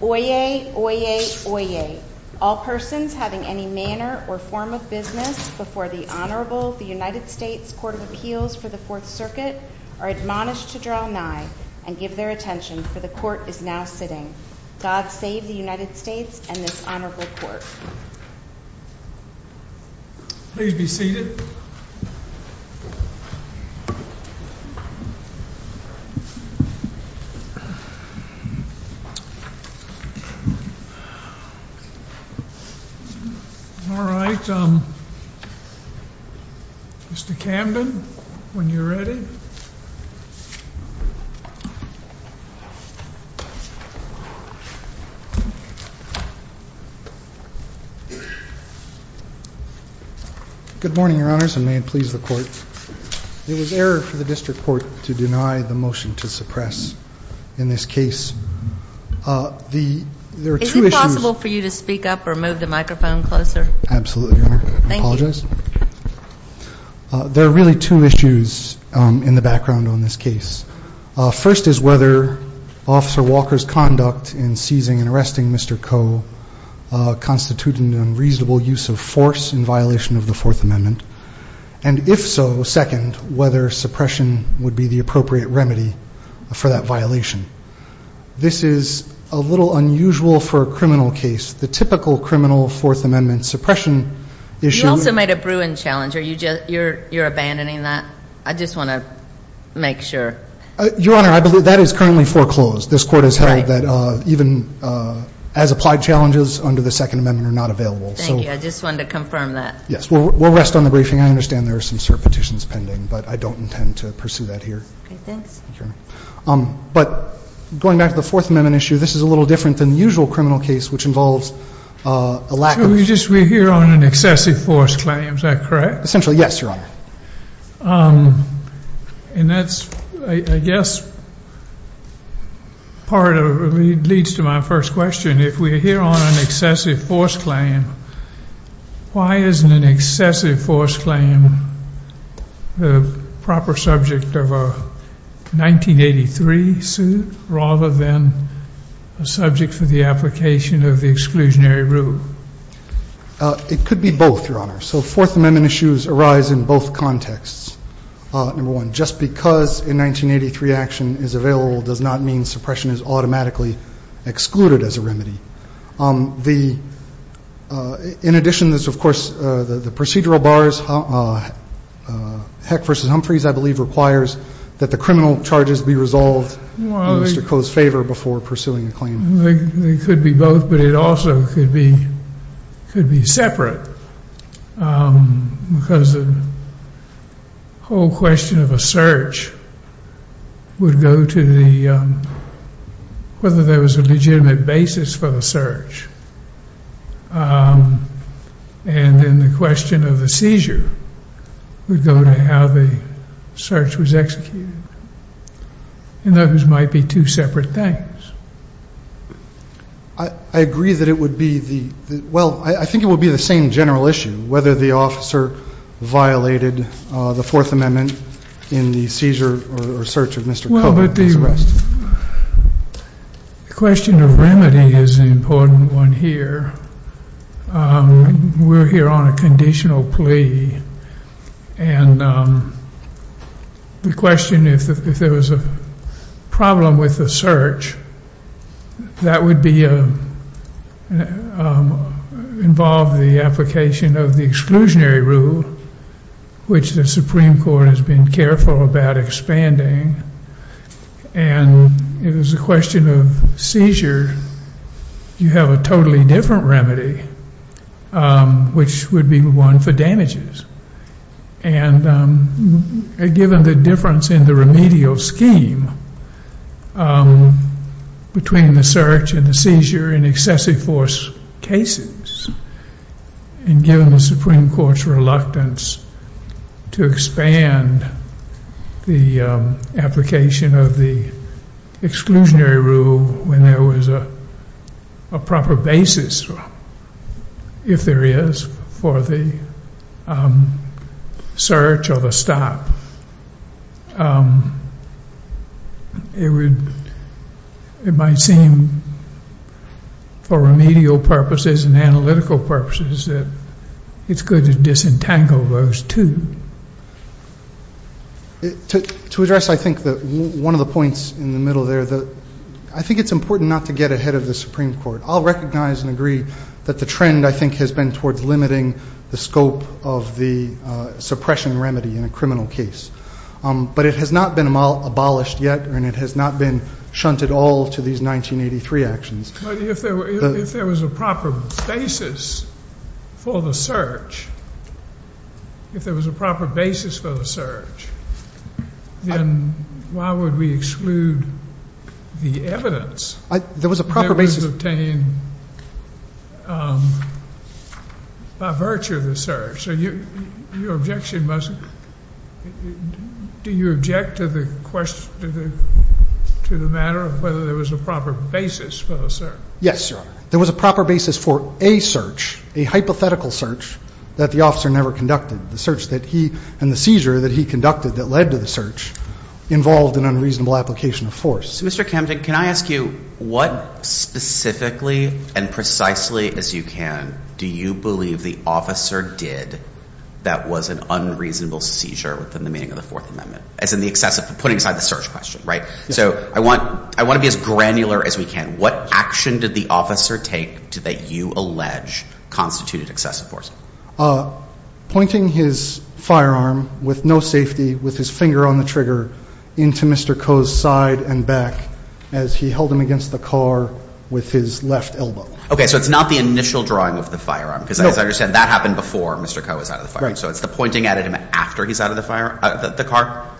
Oyez, oyez, oyez. All persons having any manner or form of business before the Honorable United States Court of Appeals for the Fourth Circuit are admonished to draw nigh and give their attention, for the Court is now sitting. God save the United States and this Honorable Court. Please be seated. All right, Mr. Camden, when you're ready. Good morning, Your Honors, and may it please the Court. It was error for the district court to deny the motion to suppress in this case. Is it possible for you to speak up or move the microphone closer? Absolutely, Your Honor. Thank you. There are really two issues in the background on this case. First is whether Officer Walker's conduct in seizing and arresting Mr. Coe constituted an unreasonable use of force in violation of the Fourth Amendment, and if so, second, whether suppression would be the appropriate remedy for that violation. This is a little unusual for a criminal case. The typical criminal Fourth Amendment suppression issue. You also made a Bruin challenge. Are you just – you're abandoning that? I just want to make sure. Your Honor, I believe that is currently foreclosed. Right. This Court has held that even as applied challenges under the Second Amendment are not available. Thank you. I just wanted to confirm that. Yes. We'll rest on the briefing. I understand there are some cert petitions pending, but I don't intend to pursue that here. Okay, thanks. But going back to the Fourth Amendment issue, this is a little different than the usual criminal case, which involves a lack of – So we're here on an excessive force claim. Is that correct? Essentially, yes, Your Honor. And that's, I guess, part of – leads to my first question. If we're here on an excessive force claim, why isn't an excessive force claim the proper subject of a 1983 suit rather than a subject for the application of the exclusionary rule? It could be both, Your Honor. So Fourth Amendment issues arise in both contexts, number one. Just because a 1983 action is available does not mean suppression is automatically excluded as a remedy. The – in addition, there's, of course, the procedural bars. Heck v. Humphreys, I believe, requires that the criminal charges be resolved in Mr. Koh's favor before pursuing a claim. They could be both, but it also could be separate because the whole question of a search would go to the – whether there was a legitimate basis for the search. And then the question of a seizure would go to how the search was executed. And those might be two separate things. I agree that it would be the – well, I think it would be the same general issue, whether the officer violated the Fourth Amendment in the seizure or search of Mr. Koh. Well, but the question of remedy is an important one here. We're here on a conditional plea. And the question, if there was a problem with the search, that would be – involve the application of the exclusionary rule, which the Supreme Court has been careful about expanding. And if it was a question of seizure, you have a totally different remedy, which would be one for damages. And given the difference in the remedial scheme between the search and the seizure in excessive force cases, and given the Supreme Court's reluctance to expand the application of the exclusionary rule when there was a proper basis, if there is, for the search or the stop, it might seem, for remedial purposes and analytical purposes, that it's good to disentangle those two. To address, I think, one of the points in the middle there, I think it's important not to get ahead of the Supreme Court. I'll recognize and agree that the trend, I think, has been towards limiting the scope of the suppression remedy in a criminal case. But it has not been abolished yet, and it has not been shunted all to these 1983 actions. But if there was a proper basis for the search, if there was a proper basis for the search, then why would we exclude the evidence that was obtained by virtue of the search? So your objection must be, do you object to the matter of whether there was a proper basis for the search? Yes, Your Honor. There was a proper basis for a search, a hypothetical search, that the officer never conducted. The search that he and the seizure that he conducted that led to the search involved an unreasonable application of force. So Mr. Kempton, can I ask you, what specifically and precisely as you can do you believe the officer did that was an unreasonable seizure within the meaning of the Fourth Amendment? As in the excessive, putting aside the search question, right? So I want to be as granular as we can. What action did the officer take that you allege constituted excessive force? Pointing his firearm with no safety, with his finger on the trigger, into Mr. Koh's side and back as he held him against the car with his left elbow. Okay, so it's not the initial drawing of the firearm? No. Because as I understand, that happened before Mr. Koh was out of the fire. Right. So it's the pointing at him after he's out of the car?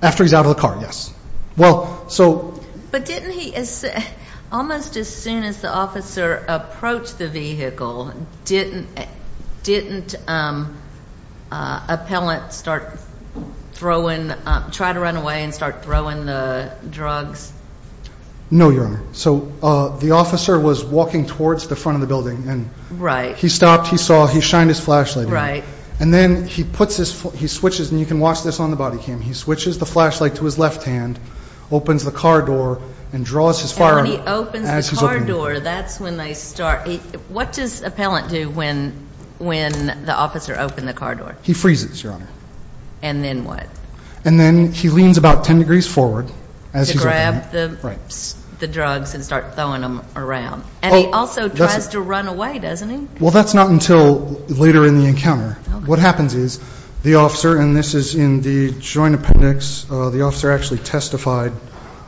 After he's out of the car, yes. But didn't he, almost as soon as the officer approached the vehicle, didn't appellant start throwing, try to run away and start throwing the drugs? No, Your Honor. So the officer was walking towards the front of the building. Right. He stopped, he saw, he shined his flashlight. Right. And then he puts his, he switches, and you can watch this on the body cam, he switches the flashlight to his left hand, opens the car door, and draws his firearm. And when he opens the car door, that's when they start, what does appellant do when the officer opened the car door? He freezes, Your Honor. And then what? And then he leans about 10 degrees forward as he's opening it. To grab the drugs and start throwing them around. And he also tries to run away, doesn't he? Well, that's not until later in the encounter. What happens is the officer, and this is in the joint appendix, the officer actually testified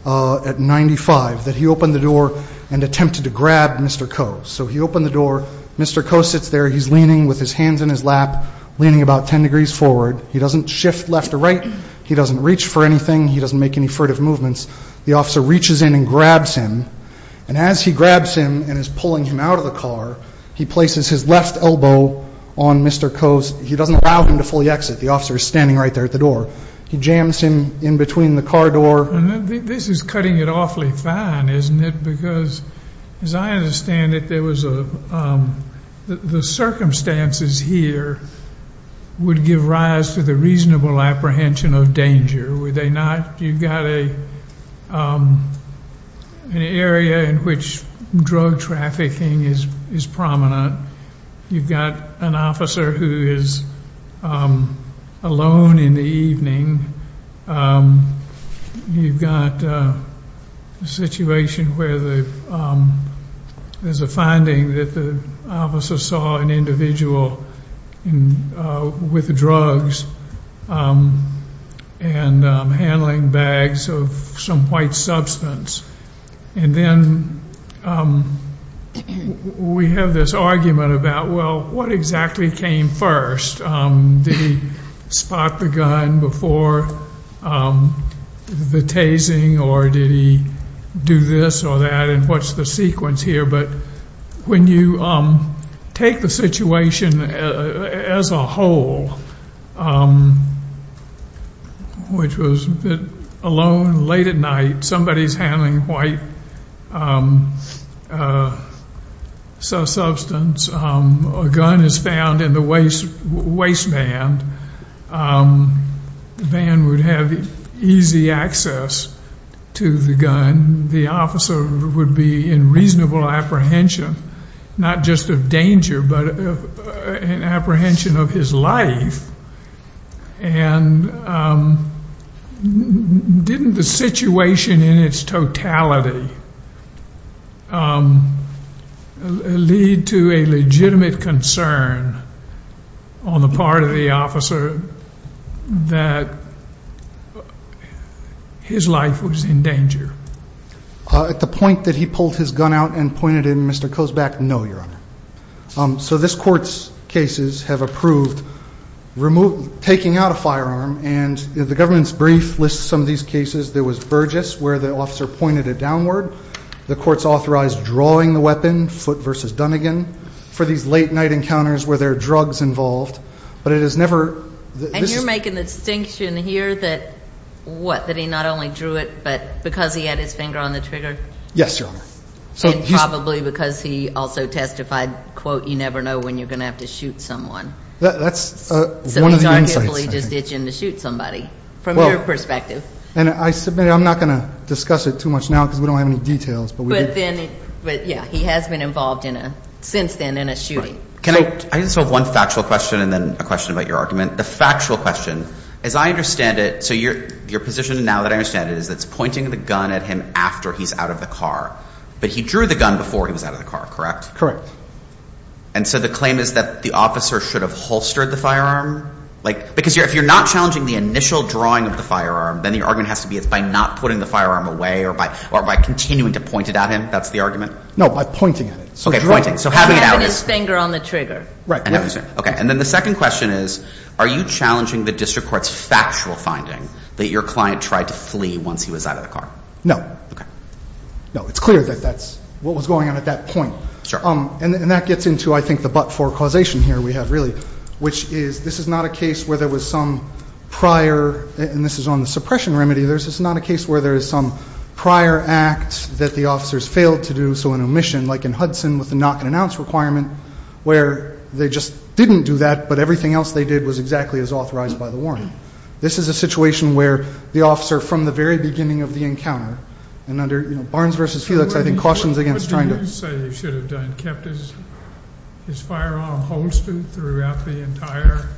at 95 that he opened the door and attempted to grab Mr. Koh. So he opened the door, Mr. Koh sits there, he's leaning with his hands in his lap, leaning about 10 degrees forward. He doesn't shift left or right. He doesn't reach for anything. He doesn't make any furtive movements. The officer reaches in and grabs him. And as he grabs him and is pulling him out of the car, he places his left elbow on Mr. Koh's, he doesn't allow him to fully exit. The officer is standing right there at the door. He jams him in between the car door. This is cutting it awfully fine, isn't it? Because as I understand it, there was a, the circumstances here would give rise to the reasonable apprehension of danger. Would they not? You've got an area in which drug trafficking is prominent. You've got an officer who is alone in the evening. You've got a situation where there's a finding that the officer saw an individual with drugs and handling bags of some white substance. And then we have this argument about, well, what exactly came first? Did he spot the gun before the tasing or did he do this or that? And what's the sequence here? But when you take the situation as a whole, which was that alone late at night, somebody's handling white substance. A gun is found in the waistband. The man would have easy access to the gun. The officer would be in reasonable apprehension, not just of danger, but an apprehension of his life. And didn't the situation in its totality lead to a legitimate concern on the part of the officer that his life was in danger? At the point that he pulled his gun out and pointed it at Mr. Kozback, no, Your Honor. So this Court's cases have approved taking out a firearm. And the government's brief lists some of these cases. There was Burgess, where the officer pointed it downward. The Court's authorized drawing the weapon, Foote v. Dunnigan, for these late-night encounters where there are drugs involved. But it has never – And you're making the distinction here that what, that he not only drew it, but because he had his finger on the trigger? Yes, Your Honor. And probably because he also testified, quote, you never know when you're going to have to shoot someone. That's one of the insights. So he's arguably just itching to shoot somebody from your perspective. And I submit I'm not going to discuss it too much now because we don't have any details. But then, yeah, he has been involved in a – since then in a shooting. Can I – I just have one factual question and then a question about your argument. The factual question, as I understand it – so your position now that I understand it is that it's pointing the gun at him after he's out of the car. But he drew the gun before he was out of the car, correct? Correct. And so the claim is that the officer should have holstered the firearm? Because if you're not challenging the initial drawing of the firearm, then the argument has to be it's by not putting the firearm away or by continuing to point it at him. That's the argument? No, by pointing at it. Okay, pointing. So having it out is – And having his finger on the trigger. Right. And then the second question is are you challenging the district court's factual finding that your client tried to flee once he was out of the car? No. Okay. No, it's clear that that's what was going on at that point. Sure. And that gets into, I think, the but-for causation here we have really, which is this is not a case where there was some prior – and this is on the suppression remedy. This is not a case where there is some prior act that the officers failed to do, so an omission, like in Hudson with the knock-and-announce requirement, where they just didn't do that but everything else they did was exactly as authorized by the warrant. This is a situation where the officer from the very beginning of the encounter, and under Barnes v. Felix, I think, cautions against trying to – What do you say he should have done? Kept his firearm holstered throughout the entire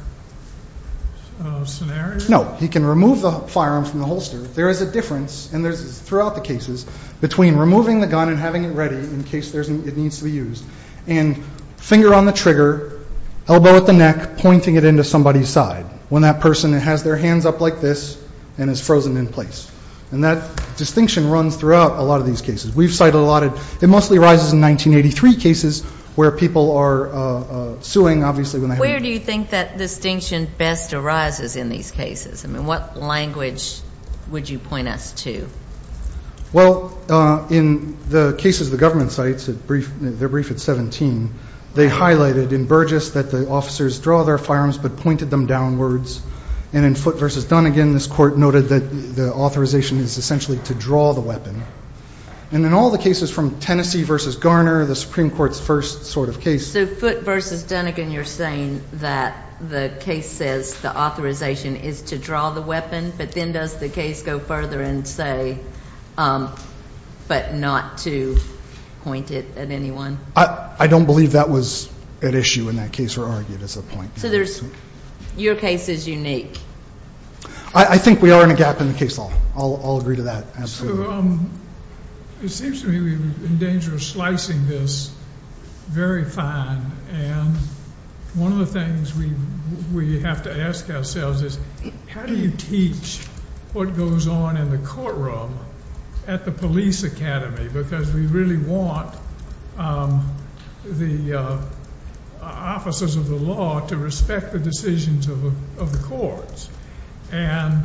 scenario? No. He can remove the firearm from the holster. There is a difference, and this is throughout the cases, between removing the gun and having it ready in case it needs to be used and finger on the trigger, elbow at the neck, pointing it into somebody's side when that person has their hands up like this and is frozen in place. And that distinction runs throughout a lot of these cases. We've cited a lot of – it mostly arises in 1983 cases where people are suing, obviously, when they have – Where do you think that distinction best arises in these cases? I mean, what language would you point us to? Well, in the cases the government cites, their brief at 17, they highlighted in Burgess that the officers draw their firearms but pointed them downwards. And in Foote v. Dunnegan, this Court noted that the authorization is essentially to draw the weapon. And in all the cases from Tennessee v. Garner, the Supreme Court's first sort of case – So Foote v. Dunnegan, you're saying that the case says the authorization is to draw the weapon, but then does the case go further and say but not to point it at anyone? I don't believe that was at issue in that case or argued as a point. So there's – your case is unique. I think we are in a gap in the case law. I'll agree to that, absolutely. So it seems to me we're in danger of slicing this very fine. And one of the things we have to ask ourselves is how do you teach what goes on in the courtroom at the police academy? Because we really want the officers of the law to respect the decisions of the courts. And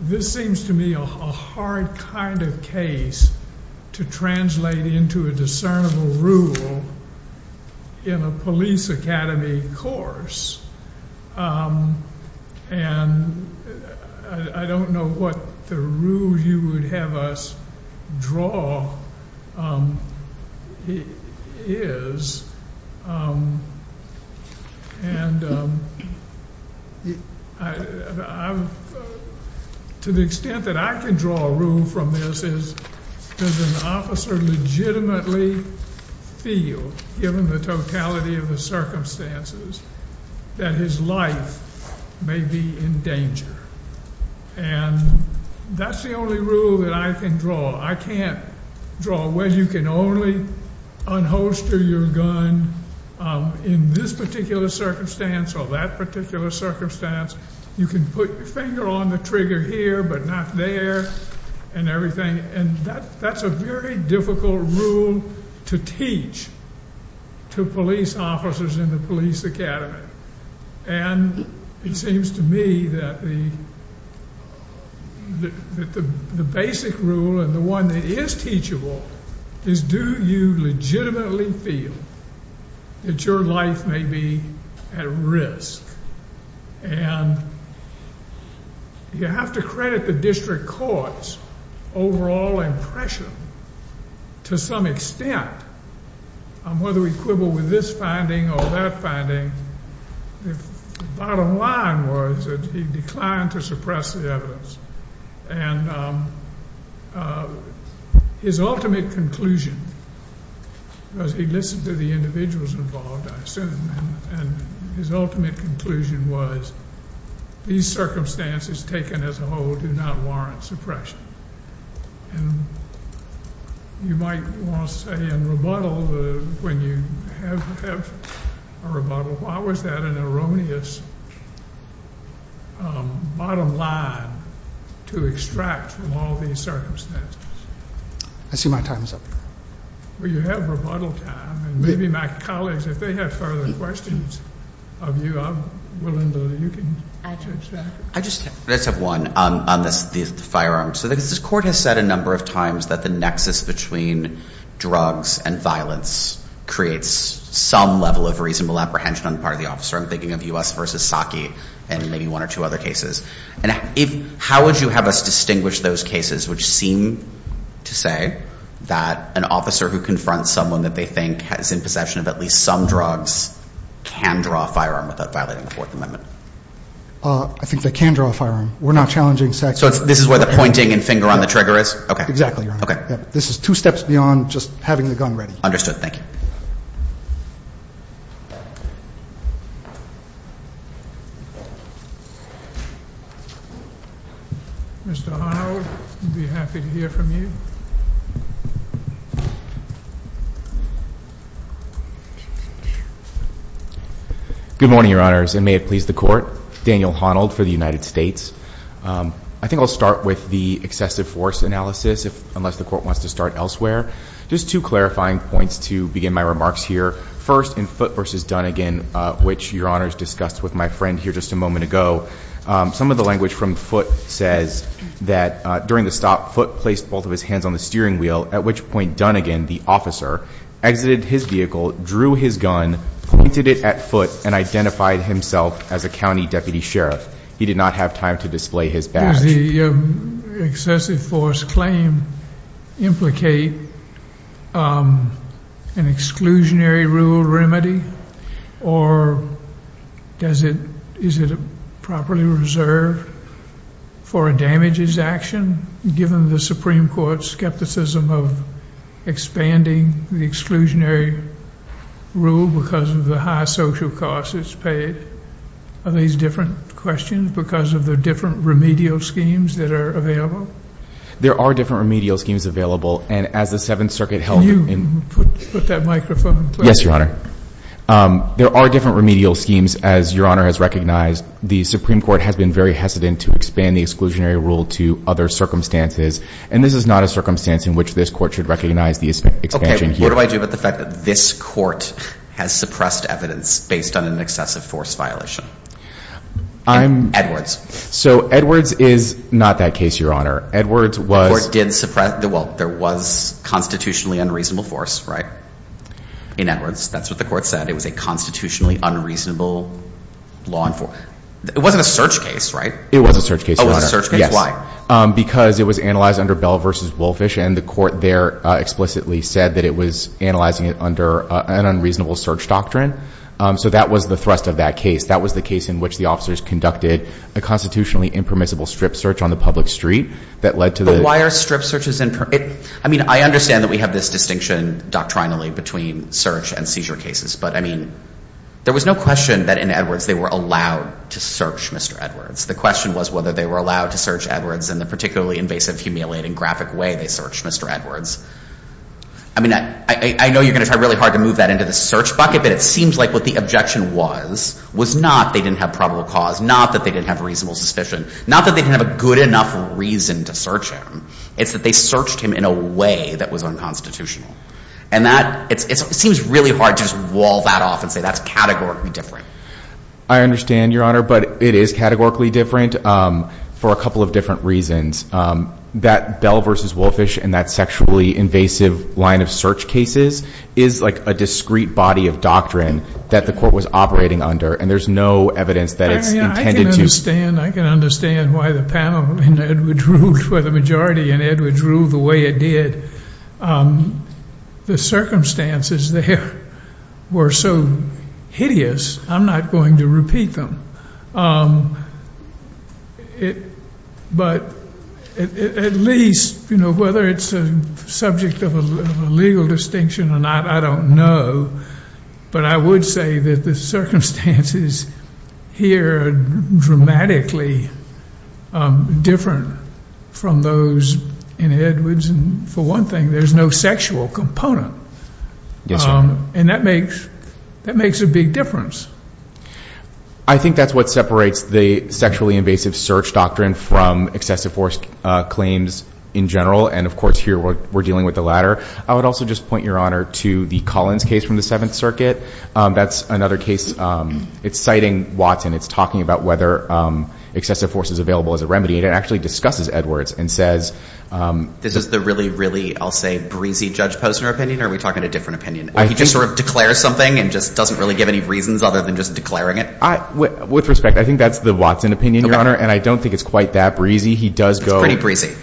this seems to me a hard kind of case to translate into a discernible rule in a police academy course. And I don't know what the rule you would have us draw is. And to the extent that I can draw a rule from this is does an officer legitimately feel, given the totality of the circumstances, that his life may be in danger? And that's the only rule that I can draw. I can't draw a way you can only unholster your gun in this particular circumstance or that particular circumstance. You can put your finger on the trigger here but not there and everything. And that's a very difficult rule to teach to police officers in the police academy. And it seems to me that the basic rule and the one that is teachable is do you legitimately feel that your life may be at risk? And you have to credit the district court's overall impression, to some extent, on whether we quibble with this finding or that finding, if the bottom line was that he declined to suppress the evidence. And his ultimate conclusion, because he listened to the individuals involved, I assume, and his ultimate conclusion was these circumstances taken as a whole do not warrant suppression. And you might want to say in rebuttal, when you have a rebuttal, why was that an erroneous bottom line to extract from all these circumstances? I see my time is up. Well, you have rebuttal time. And maybe my colleagues, if they have further questions of you, I'm willing to, you can address that. I just have one on the firearms. So the court has said a number of times that the nexus between drugs and violence creates some level of reasonable apprehension on the part of the officer. I'm thinking of U.S. v. Psaki and maybe one or two other cases. And how would you have us distinguish those cases which seem to say that an officer who confronts someone that they think is in possession of at least some drugs can draw a firearm without violating the Fourth Amendment? I think they can draw a firearm. We're not challenging sex. So this is where the pointing and finger on the trigger is? Exactly, Your Honor. Okay. This is two steps beyond just having the gun ready. Understood. Thank you. Mr. Honnold, we'd be happy to hear from you. Good morning, Your Honors, and may it please the court. Daniel Honnold for the United States. I think I'll start with the excessive force analysis unless the court wants to start elsewhere. Just two clarifying points to begin my remarks here. First, in Foote v. Dunnigan, which Your Honors discussed with my friend here just a moment ago, some of the language from Foote says that during the stop, Foote placed both of his hands on the steering wheel, at which point Dunnigan, the officer, exited his vehicle, drew his gun, pointed it at Foote, and identified himself as a county deputy sheriff. He did not have time to display his badge. Does the excessive force claim implicate an exclusionary rule remedy, or is it properly reserved for a damages action, given the Supreme Court's skepticism of expanding the exclusionary rule because of the high social costs it's paid? Are these different questions because of the different remedial schemes that are available? There are different remedial schemes available, and as the Seventh Circuit held in – Can you put that microphone closer? Yes, Your Honor. There are different remedial schemes, as Your Honor has recognized. The Supreme Court has been very hesitant to expand the exclusionary rule to other circumstances, and this is not a circumstance in which this court should recognize the expansion here. What do I do about the fact that this court has suppressed evidence based on an excessive force violation? So Edwards is not that case, Your Honor. Edwards was – The court did suppress – well, there was constitutionally unreasonable force, right, in Edwards. That's what the court said. It was a constitutionally unreasonable law enforcement. It wasn't a search case, right? It was a search case, Your Honor. Oh, it was a search case. Why? Because it was analyzed under Bell v. Wolfish, and the court there explicitly said that it was analyzing it under an unreasonable search doctrine. So that was the thrust of that case. That was the case in which the officers conducted a constitutionally impermissible strip search on the public street that led to the – But why are strip searches – I mean, I understand that we have this distinction doctrinally between search and seizure cases, but, I mean, there was no question that in Edwards they were allowed to search Mr. Edwards. The question was whether they were allowed to search Edwards in the particularly invasive, humiliating, graphic way they searched Mr. Edwards. I mean, I know you're going to try really hard to move that into the search bucket, but it seems like what the objection was was not they didn't have probable cause, not that they didn't have reasonable suspicion, not that they didn't have a good enough reason to search him. It's that they searched him in a way that was unconstitutional. And that – it seems really hard to just wall that off and say that's categorically different. I understand, Your Honor, but it is categorically different for a couple of different reasons. That Bell v. Wolfish and that sexually invasive line of search cases is like a discreet body of doctrine that the court was operating under, and there's no evidence that it's intended to – I can understand why the panel in Edwards ruled for the majority in Edwards ruled the way it did. The circumstances there were so hideous, I'm not going to repeat them. But at least, you know, whether it's a subject of a legal distinction or not, I don't know. But I would say that the circumstances here are dramatically different from those in Edwards. And for one thing, there's no sexual component. Yes, sir. And that makes a big difference. I think that's what separates the sexually invasive search doctrine from excessive force claims in general. And, of course, here we're dealing with the latter. I would also just point, Your Honor, to the Collins case from the Seventh Circuit. That's another case. It's citing Watson. It's talking about whether excessive force is available as a remedy, and it actually discusses Edwards and says – This is the really, really, I'll say, breezy Judge Posner opinion, or are we talking a different opinion? He just sort of declares something and just doesn't really give any reasons other than just declaring it? With respect, I think that's the Watson opinion, Your Honor, and I don't think it's quite that breezy. It's pretty breezy.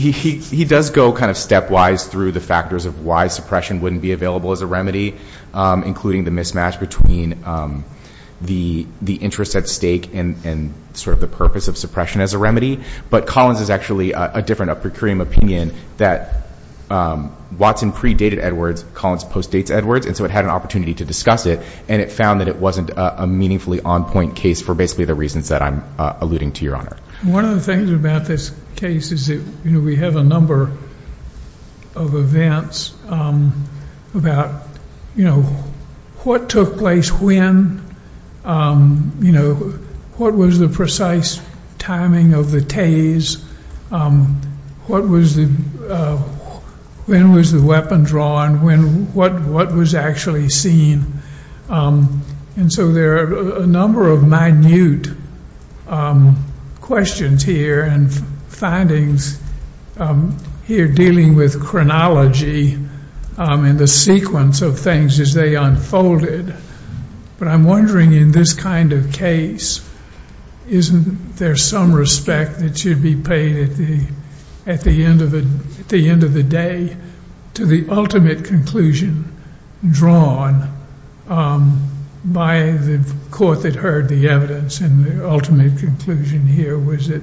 He does go kind of stepwise through the factors of why suppression wouldn't be available as a remedy, including the mismatch between the interest at stake and sort of the purpose of suppression as a remedy. But Collins is actually a different opinion that Watson predated Edwards, Collins postdates Edwards, and so it had an opportunity to discuss it, and it found that it wasn't a meaningfully on-point case for basically the reasons that I'm alluding to, Your Honor. One of the things about this case is that we have a number of events about what took place when, what was the precise timing of the tase, when was the weapon drawn, what was actually seen. And so there are a number of minute questions here and findings here dealing with chronology and the sequence of things as they unfolded. But I'm wondering in this kind of case, isn't there some respect that should be paid at the end of the day to the ultimate conclusion drawn by the court that heard the evidence, and the ultimate conclusion here was that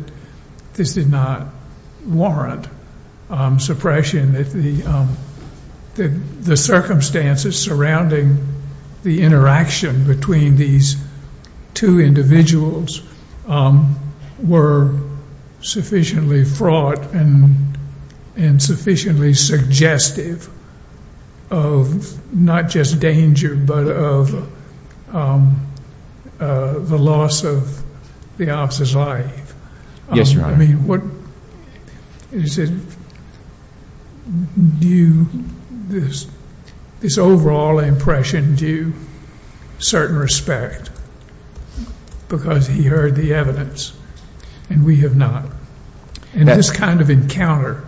this did not warrant suppression, that the circumstances surrounding the interaction between these two individuals were sufficiently fraught and sufficiently suggestive of not just danger but of the loss of the officer's life. Yes, Your Honor. I mean, what is it, do you, this overall impression, do you certain respect because he heard the evidence and we have not? In this kind of encounter,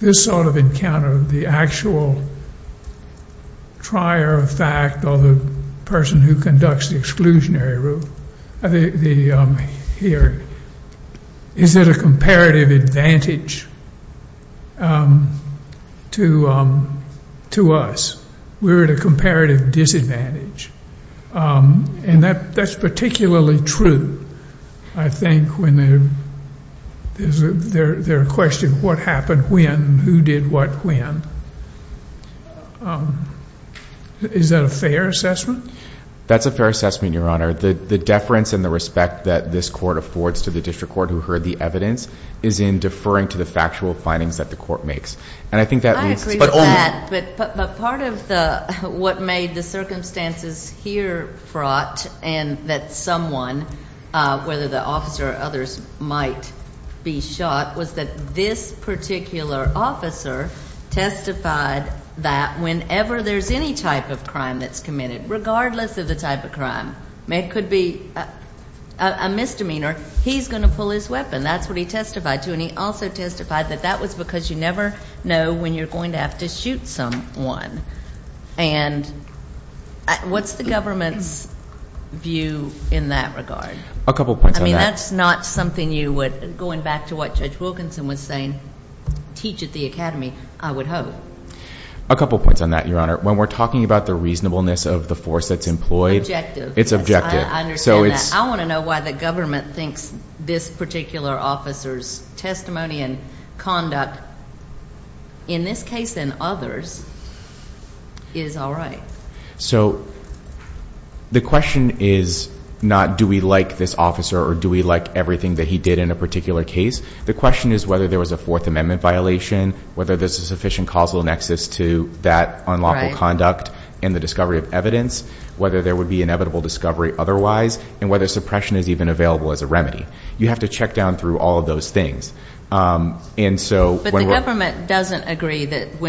this sort of encounter, the actual trier of fact or the person who conducts the exclusionary rule here, is it a comparative advantage to us? We're at a comparative disadvantage. And that's particularly true, I think, when there's a question of what happened when, who did what when. Is that a fair assessment? That's a fair assessment, Your Honor. The deference and the respect that this court affords to the district court who heard the evidence is in deferring to the factual findings that the court makes. I agree with that, but part of what made the circumstances here fraught and that someone, whether the officer or others, might be shot was that this particular officer testified that whenever there's any type of crime that's committed, regardless of the type of crime, it could be a misdemeanor, he's going to pull his weapon. That's what he testified to. And he also testified that that was because you never know when you're going to have to shoot someone. And what's the government's view in that regard? A couple points on that. I mean, that's not something you would, going back to what Judge Wilkinson was saying, teach at the academy, I would hope. A couple points on that, Your Honor. When we're talking about the reasonableness of the force that's employed, it's objective. I understand that. I want to know why the government thinks this particular officer's testimony and conduct, in this case and others, is all right. So the question is not do we like this officer or do we like everything that he did in a particular case. The question is whether there was a Fourth Amendment violation, whether there's a sufficient causal nexus to that unlawful conduct and the discovery of evidence, whether there would be inevitable discovery otherwise, and whether suppression is even available as a remedy. You have to check down through all of those things. But the government does not agree that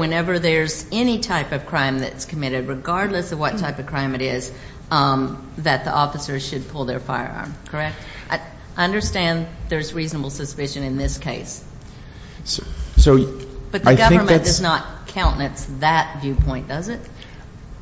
whenever there's any type of crime that's committed, regardless of what type of crime it is, that the officers should pull their firearm, correct? I understand there's reasonable suspicion in this case. But the government does not countenance that viewpoint, does it?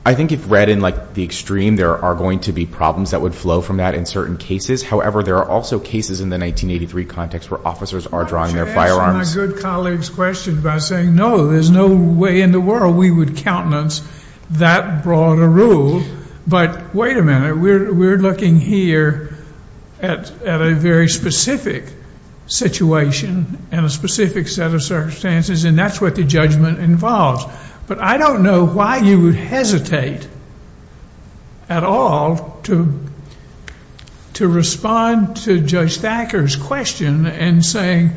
I think if read in the extreme, there are going to be problems that would flow from that in certain cases. However, there are also cases in the 1983 context where officers are drawing their firearms. Why don't you answer my good colleague's question by saying, no, there's no way in the world we would countenance that broad a rule. But wait a minute. We're looking here at a very specific situation and a specific set of circumstances, and that's what the judgment involves. But I don't know why you would hesitate at all to respond to Judge Thacker's question and say,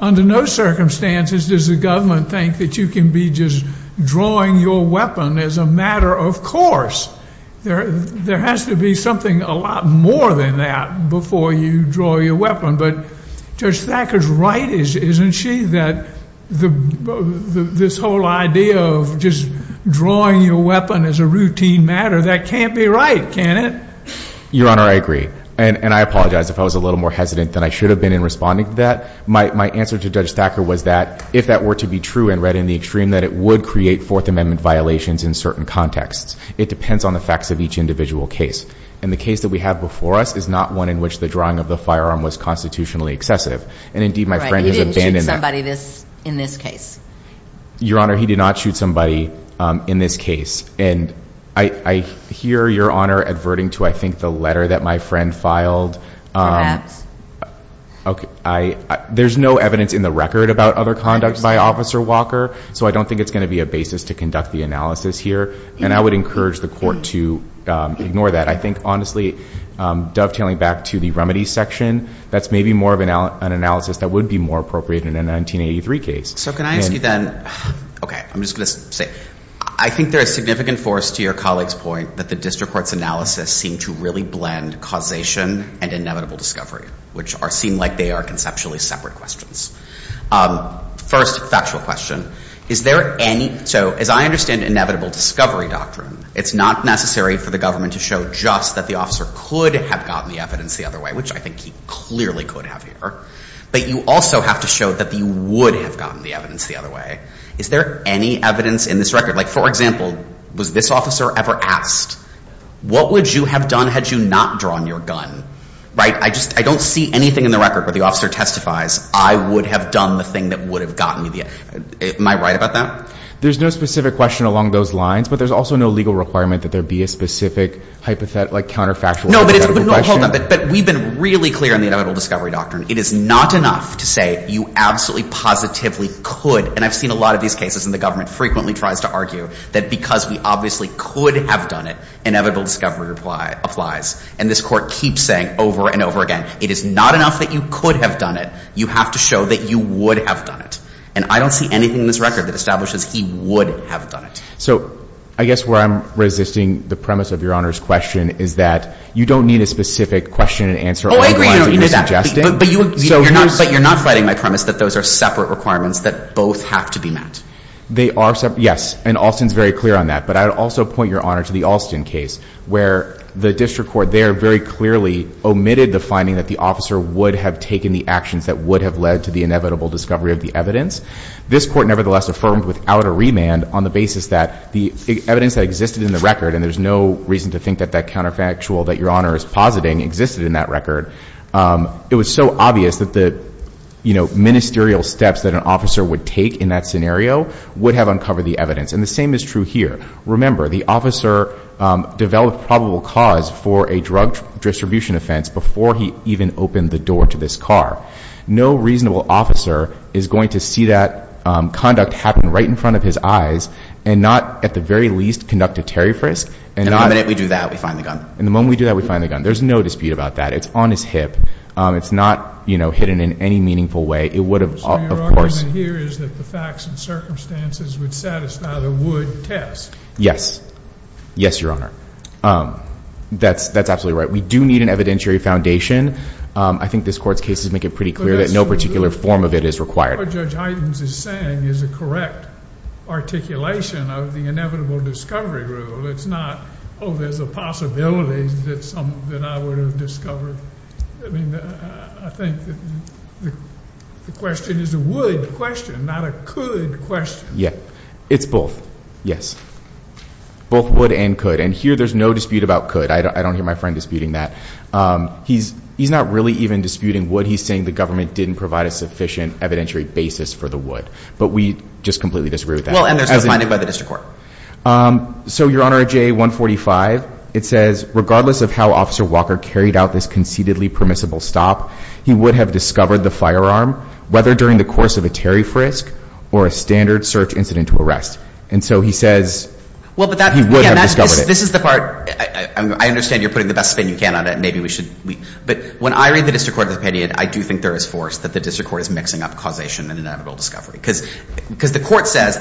under no circumstances does the government think that you can be just drawing your weapon as a matter of course. There has to be something a lot more than that before you draw your weapon. But Judge Thacker's right, isn't she, that this whole idea of just drawing your weapon as a routine matter, that can't be right, can it? Your Honor, I agree. And I apologize if I was a little more hesitant than I should have been in responding to that. My answer to Judge Thacker was that if that were to be true and read in the extreme, that it would create Fourth Amendment violations in certain contexts. It depends on the facts of each individual case. And the case that we have before us is not one in which the drawing of the firearm was constitutionally excessive. And indeed, my friend has abandoned that. He didn't shoot somebody in this case. Your Honor, he did not shoot somebody in this case. And I hear Your Honor adverting to, I think, the letter that my friend filed. Perhaps. There's no evidence in the record about other conduct by Officer Walker, so I don't think it's going to be a basis to conduct the analysis here. And I would encourage the Court to ignore that. I think, honestly, dovetailing back to the remedies section, that's maybe more of an analysis that would be more appropriate in a 1983 case. So can I ask you then, okay, I'm just going to say, I think there is significant force to your colleague's point that the district court's analysis seemed to really blend causation and inevitable discovery, which seem like they are conceptually separate questions. First, factual question. So as I understand inevitable discovery doctrine, it's not necessary for the government to show just that the officer could have gotten the evidence the other way, which I think he clearly could have here. But you also have to show that he would have gotten the evidence the other way. Is there any evidence in this record? Like, for example, was this officer ever asked, what would you have done had you not drawn your gun? Right? I don't see anything in the record where the officer testifies, I would have done the thing that would have gotten me the evidence. Am I right about that? There's no specific question along those lines, but there's also no legal requirement that there be a specific counterfactual question. No, but hold on. But we've been really clear on the inevitable discovery doctrine. It is not enough to say you absolutely positively could, and I've seen a lot of these cases, and the government frequently tries to argue that because we obviously could have done it, inevitable discovery applies. And this court keeps saying over and over again, it is not enough that you could have done it. You have to show that you would have done it. And I don't see anything in this record that establishes he would have done it. So I guess where I'm resisting the premise of Your Honor's question is that you don't need a specific question and answer along the lines that you're suggesting. Oh, I agree on that. But you're not fighting my premise that those are separate requirements, that both have to be met. They are separate. Yes. And Alston's very clear on that. But I would also point Your Honor to the Alston case where the district court there very clearly omitted the finding that the officer would have taken the actions that would have led to the inevitable discovery of the evidence. This court nevertheless affirmed without a remand on the basis that the evidence that existed in the record, and there's no reason to think that that counterfactual that Your Honor is positing existed in that record, it was so obvious that the ministerial steps that an officer would take in that scenario would have uncovered the evidence. And the same is true here. Remember, the officer developed probable cause for a drug distribution offense before he even opened the door to this car. No reasonable officer is going to see that conduct happen right in front of his eyes and not at the very least conduct a tariff risk. And the moment we do that, we find the gun. And the moment we do that, we find the gun. There's no dispute about that. It's on his hip. It's not, you know, hidden in any meaningful way. It would have, of course. The argument here is that the facts and circumstances would satisfy the Wood test. Yes. Yes, Your Honor. That's absolutely right. We do need an evidentiary foundation. I think this court's cases make it pretty clear that no particular form of it is required. What Judge Heitens is saying is a correct articulation of the inevitable discovery rule. It's not, oh, there's a possibility that I would have discovered. I mean, I think the question is a would question, not a could question. Yeah. It's both. Yes. Both would and could. And here there's no dispute about could. I don't hear my friend disputing that. He's not really even disputing would. He's saying the government didn't provide a sufficient evidentiary basis for the would. But we just completely disagree with that. Well, and there's no finding by the district court. So, Your Honor, J145, it says, regardless of how Officer Walker carried out this conceitedly permissible stop, he would have discovered the firearm, whether during the course of a Terry frisk or a standard search incident to arrest. And so he says he would have discovered it. This is the part. I understand you're putting the best spin you can on it, and maybe we should. But when I read the district court opinion, I do think there is force that the district court is mixing up causation and inevitable discovery. Because what the court says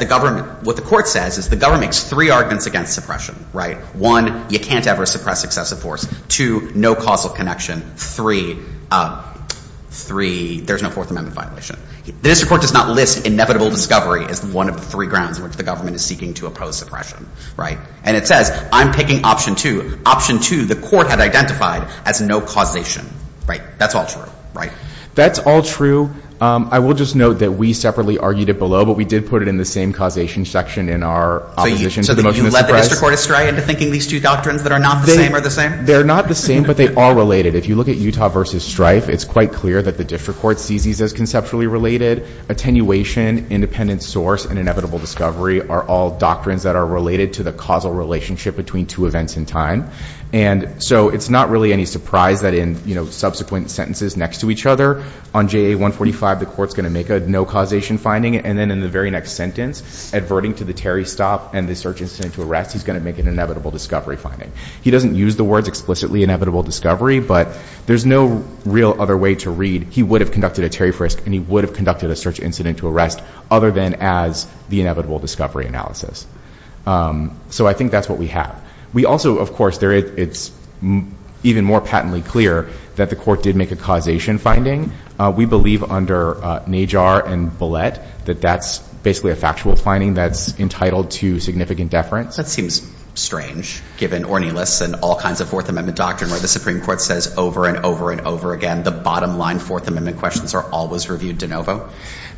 is the government makes three arguments against suppression. One, you can't ever suppress excessive force. Two, no causal connection. Three, there's no Fourth Amendment violation. The district court does not list inevitable discovery as one of the three grounds in which the government is seeking to oppose suppression. And it says, I'm picking option two. Option two, the court had identified as no causation. That's all true. That's all true. I will just note that we separately argued it below, but we did put it in the same causation section in our opposition. So you led the district court astray into thinking these two doctrines that are not the same are the same? They're not the same, but they are related. If you look at Utah versus Strife, it's quite clear that the district court sees these as conceptually related. Attenuation, independent source, and inevitable discovery are all doctrines that are related to the causal relationship between two events in time. So it's not really any surprise that in subsequent sentences next to each other, on JA 145, the court's going to make a no causation finding. And then in the very next sentence, adverting to the Terry stop and the search incident to arrest, he's going to make an inevitable discovery finding. He doesn't use the words explicitly inevitable discovery, but there's no real other way to read he would have conducted a Terry frisk, and he would have conducted a search incident to arrest, other than as the inevitable discovery analysis. So I think that's what we have. We also, of course, it's even more patently clear that the court did make a causation finding. We believe under Najjar and Bollett that that's basically a factual finding that's entitled to significant deference. That seems strange, given Ornelas and all kinds of Fourth Amendment doctrine where the Supreme Court says over and over and over again, the bottom line Fourth Amendment questions are always reviewed de novo.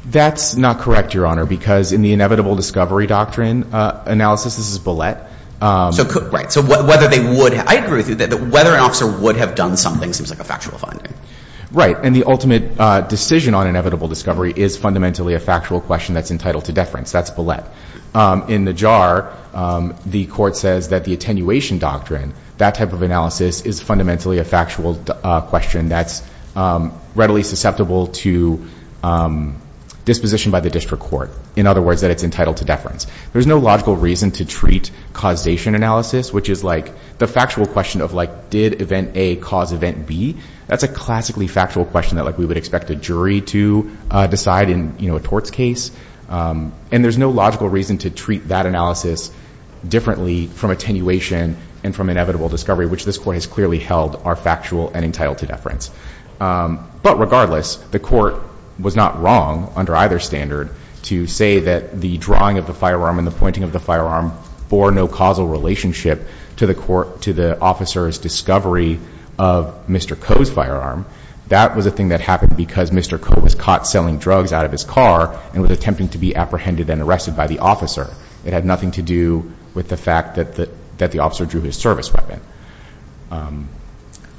That's not correct, Your Honor, because in the inevitable discovery doctrine analysis, this is Bollett. Right. So whether they would, I agree with you that whether an officer would have done something seems like a factual finding. Right. And the ultimate decision on inevitable discovery is fundamentally a factual question that's entitled to deference. That's Bollett. In Najjar, the court says that the attenuation doctrine, that type of analysis is fundamentally a factual question that's readily susceptible to disposition by the district court. In other words, that it's entitled to deference. There's no logical reason to treat causation analysis, which is like the factual question of like, did event A cause event B? That's a classically factual question that we would expect a jury to decide in a torts case. And there's no logical reason to treat that analysis differently from attenuation and from inevitable discovery, which this court has clearly held are factual and entitled to deference. But regardless, the court was not wrong under either standard to say that the drawing of the firearm and the pointing of the firearm bore no causal relationship to the court, to the officer's discovery of Mr. Coe's firearm. That was a thing that happened because Mr. Coe was caught selling drugs out of his car and was attempting to be apprehended and arrested by the officer. It had nothing to do with the fact that the officer drew his service weapon.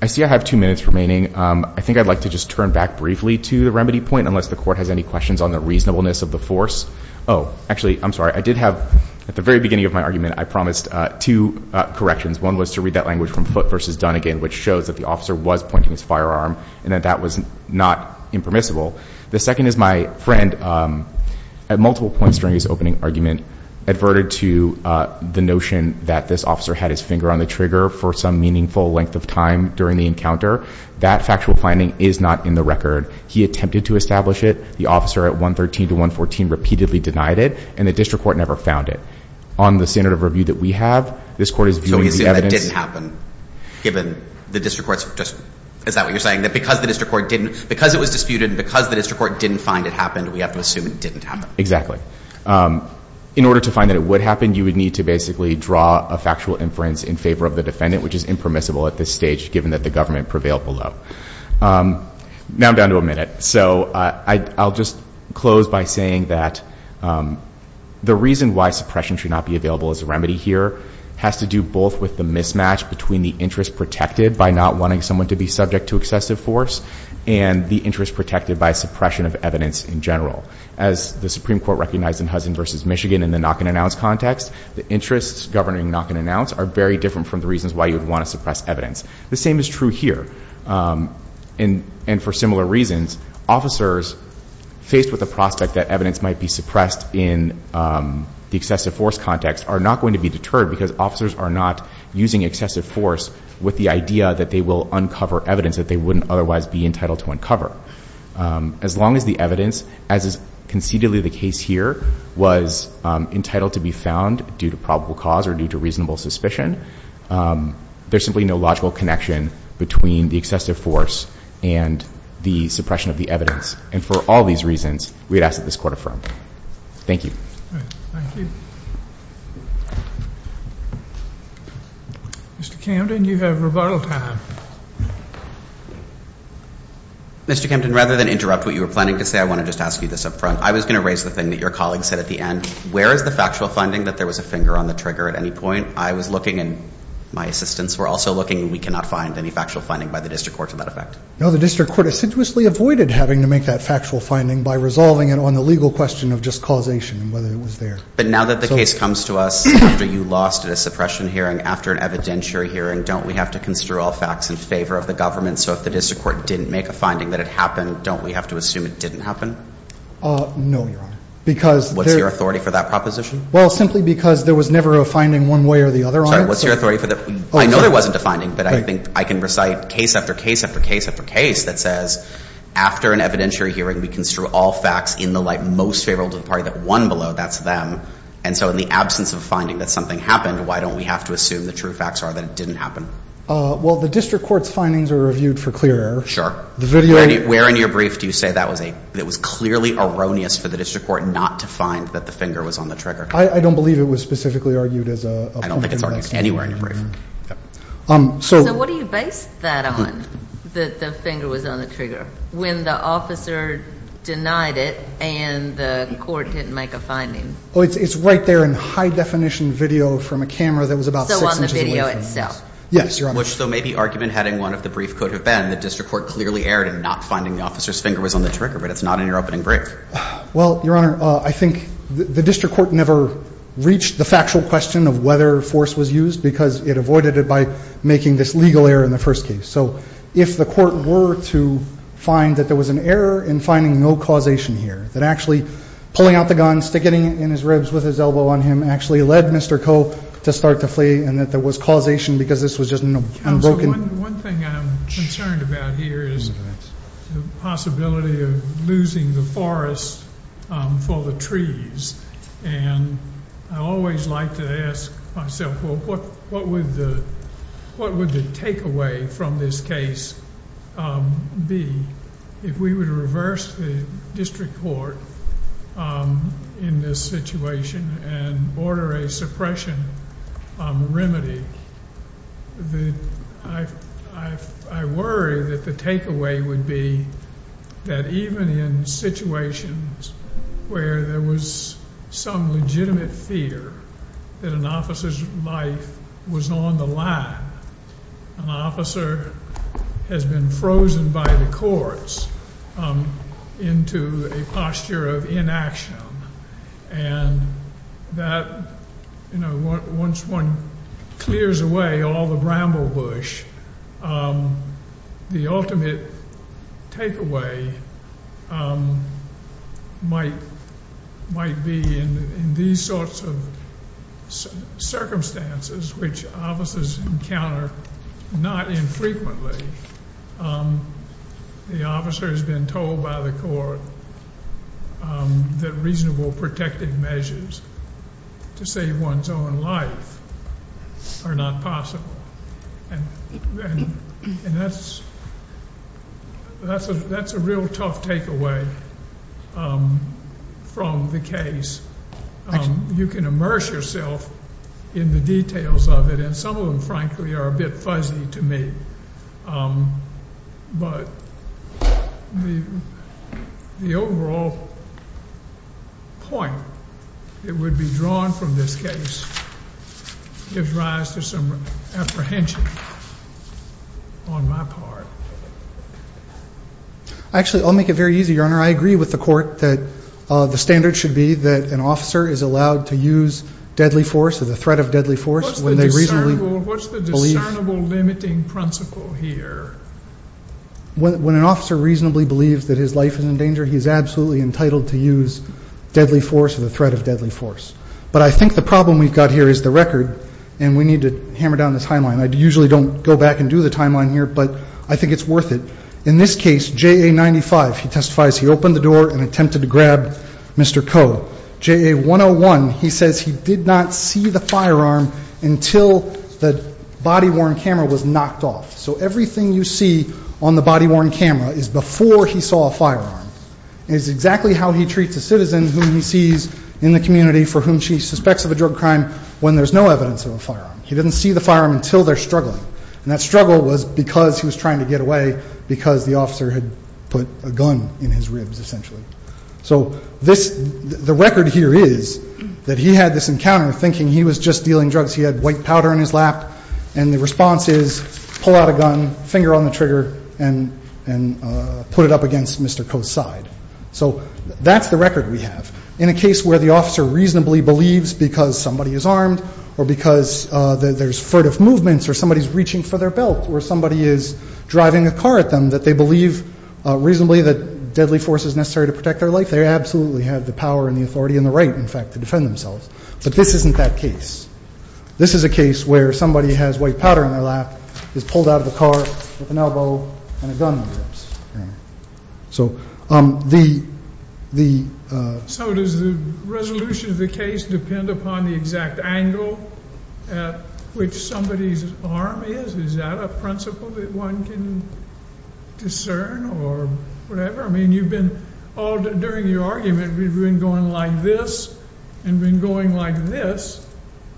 I see I have two minutes remaining. I think I'd like to just turn back briefly to the remedy point, unless the court has any questions on the reasonableness of the force. Oh, actually, I'm sorry. I did have, at the very beginning of my argument, I promised two corrections. One was to read that language from Foote v. Dunnegan, which shows that the officer was pointing his firearm and that that was not impermissible. The second is my friend, at multiple points during his opening argument, adverted to the notion that this officer had his finger on the trigger for some meaningful length of time during the encounter. That factual finding is not in the record. He attempted to establish it. The officer at 113 to 114 repeatedly denied it, and the district court never found it. On the standard of review that we have, this court is viewing the evidence. So we assume that didn't happen, given the district court's just – is that what you're saying? That because the district court didn't – because it was disputed and because the district court didn't find it happened, we have to assume it didn't happen. Exactly. In order to find that it would happen, you would need to basically draw a factual inference in favor of the defendant, which is impermissible at this stage, given that the government prevailed below. Now I'm down to a minute. So I'll just close by saying that the reason why suppression should not be available as a remedy here has to do both with the mismatch between the interest protected by not wanting someone to be subject to excessive force and the interest protected by suppression of evidence in general. As the Supreme Court recognized in Hudson v. Michigan in the knock-and-announce context, the interests governing knock-and-announce are very different from the reasons why you would want to suppress evidence. The same is true here. And for similar reasons, officers faced with the prospect that evidence might be suppressed in the excessive force context are not going to be deterred because officers are not using excessive force with the idea that they will uncover evidence that they wouldn't otherwise be entitled to uncover. As long as the evidence, as is conceitedly the case here, was entitled to be found due to probable cause or due to reasonable suspicion, there's simply no logical connection between the excessive force and the suppression of the evidence. And for all these reasons, we would ask that this Court affirm. Thank you. Thank you. Mr. Camden, you have rebuttal time. Mr. Camden, rather than interrupt what you were planning to say, I want to just ask you this up front. I was going to raise the thing that your colleague said at the end. Where is the factual finding that there was a finger on the trigger at any point? I was looking, and my assistants were also looking, and we cannot find any factual finding by the District Court to that effect. No, the District Court assiduously avoided having to make that factual finding by resolving it on the legal question of just causation and whether it was there. But now that the case comes to us after you lost at a suppression hearing, after an evidentiary hearing, don't we have to construe all facts in favor of the government? So if the District Court didn't make a finding that it happened, don't we have to assume it didn't happen? No, Your Honor. What's your authority for that proposition? Well, simply because there was never a finding one way or the other on it. Sorry, what's your authority for that? I know there wasn't a finding, but I think I can recite case after case after case after case that says after an evidentiary hearing, we construe all facts in the light most favorable to the party that won below, that's them. And so in the absence of a finding that something happened, why don't we have to assume the true facts are that it didn't happen? Well, the District Court's findings are reviewed for clear error. Sure. Where in your brief do you say that was clearly erroneous for the District Court not to find that the finger was on the trigger? I don't believe it was specifically argued as a point of reference. I don't think it's argued anywhere in your brief. So what do you base that on, that the finger was on the trigger, when the officer denied it and the court didn't make a finding? Oh, it's right there in high-definition video from a camera that was about six inches away. So on the video itself? Yes, Your Honor. Which, though maybe argument heading one of the brief could have been, the District Court clearly erred in not finding the officer's finger was on the trigger, but it's not in your opening brief. Well, Your Honor, I think the District Court never reached the factual question of whether force was used because it avoided it by making this legal error in the first case. So if the court were to find that there was an error in finding no causation here, that actually pulling out the gun, sticking it in his ribs with his elbow on him, actually led Mr. Cope to start to flee and that there was causation because this was just an unbroken. One thing I'm concerned about here is the possibility of losing the forest for the trees. And I always like to ask myself, well, what would the takeaway from this case be if we were to reverse the District Court in this situation and order a suppression remedy? I worry that the takeaway would be that even in situations where there was some legitimate fear that an officer's life was on the line, an officer has been frozen by the courts into a posture of inaction, and that once one clears away all the bramble bush, the ultimate takeaway might be in these sorts of circumstances which officers encounter not infrequently. The officer has been told by the court that reasonable protective measures to save one's own life are not possible. And that's a real tough takeaway from the case. You can immerse yourself in the details of it, and some of them, frankly, are a bit fuzzy to me. But the overall point that would be drawn from this case gives rise to some apprehension on my part. Actually, I'll make it very easy, Your Honor. I agree with the court that the standard should be that an officer is allowed to use deadly force or the threat of deadly force. What's the discernible limiting principle here? When an officer reasonably believes that his life is in danger, he's absolutely entitled to use deadly force or the threat of deadly force. But I think the problem we've got here is the record, and we need to hammer down the timeline. I usually don't go back and do the timeline here, but I think it's worth it. In this case, JA95, he testifies he opened the door and attempted to grab Mr. Coe. JA101, he says he did not see the firearm until the body-worn camera was knocked off. So everything you see on the body-worn camera is before he saw a firearm. It is exactly how he treats a citizen whom he sees in the community for whom she suspects of a drug crime when there's no evidence of a firearm. He didn't see the firearm until they're struggling. And that struggle was because he was trying to get away because the officer had put a gun in his ribs, essentially. So the record here is that he had this encounter thinking he was just dealing drugs. He had white powder in his lap, and the response is pull out a gun, finger on the trigger, and put it up against Mr. Coe's side. So that's the record we have. In a case where the officer reasonably believes because somebody is armed or because there's furtive movements or somebody's reaching for their belt or somebody is driving a car at them, that they believe reasonably that deadly force is necessary to protect their life, they absolutely have the power and the authority and the right, in fact, to defend themselves. But this isn't that case. This is a case where somebody has white powder on their lap, is pulled out of the car with an elbow, and a gun in their ribs. So the ‑‑ So does the resolution of the case depend upon the exact angle at which somebody's arm is? Is that a principle that one can discern or whatever? I mean, you've been all ‑‑ during your argument, you've been going like this and been going like this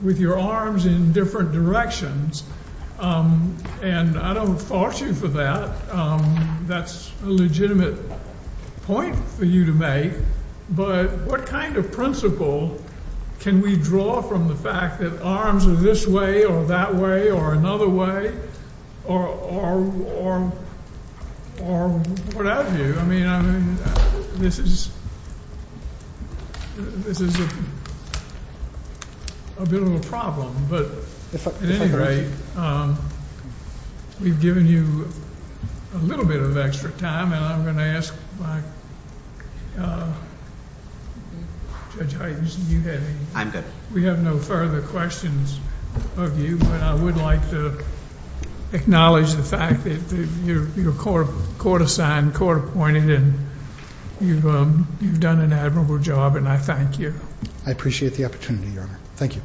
with your arms in different directions, and I don't fault you for that. That's a legitimate point for you to make. But what kind of principle can we draw from the fact that arms are this way or that way or another way or what have you? I mean, this is a bit of a problem, but at any rate, we've given you a little bit of extra time, and I'm going to ask my ‑‑ Judge Hyten, you had any? I'm good. We have no further questions of you, but I would like to acknowledge the fact that you're court‑assigned, court‑appointed, and you've done an admirable job, and I thank you. I appreciate the opportunity, Your Honor. Thank you.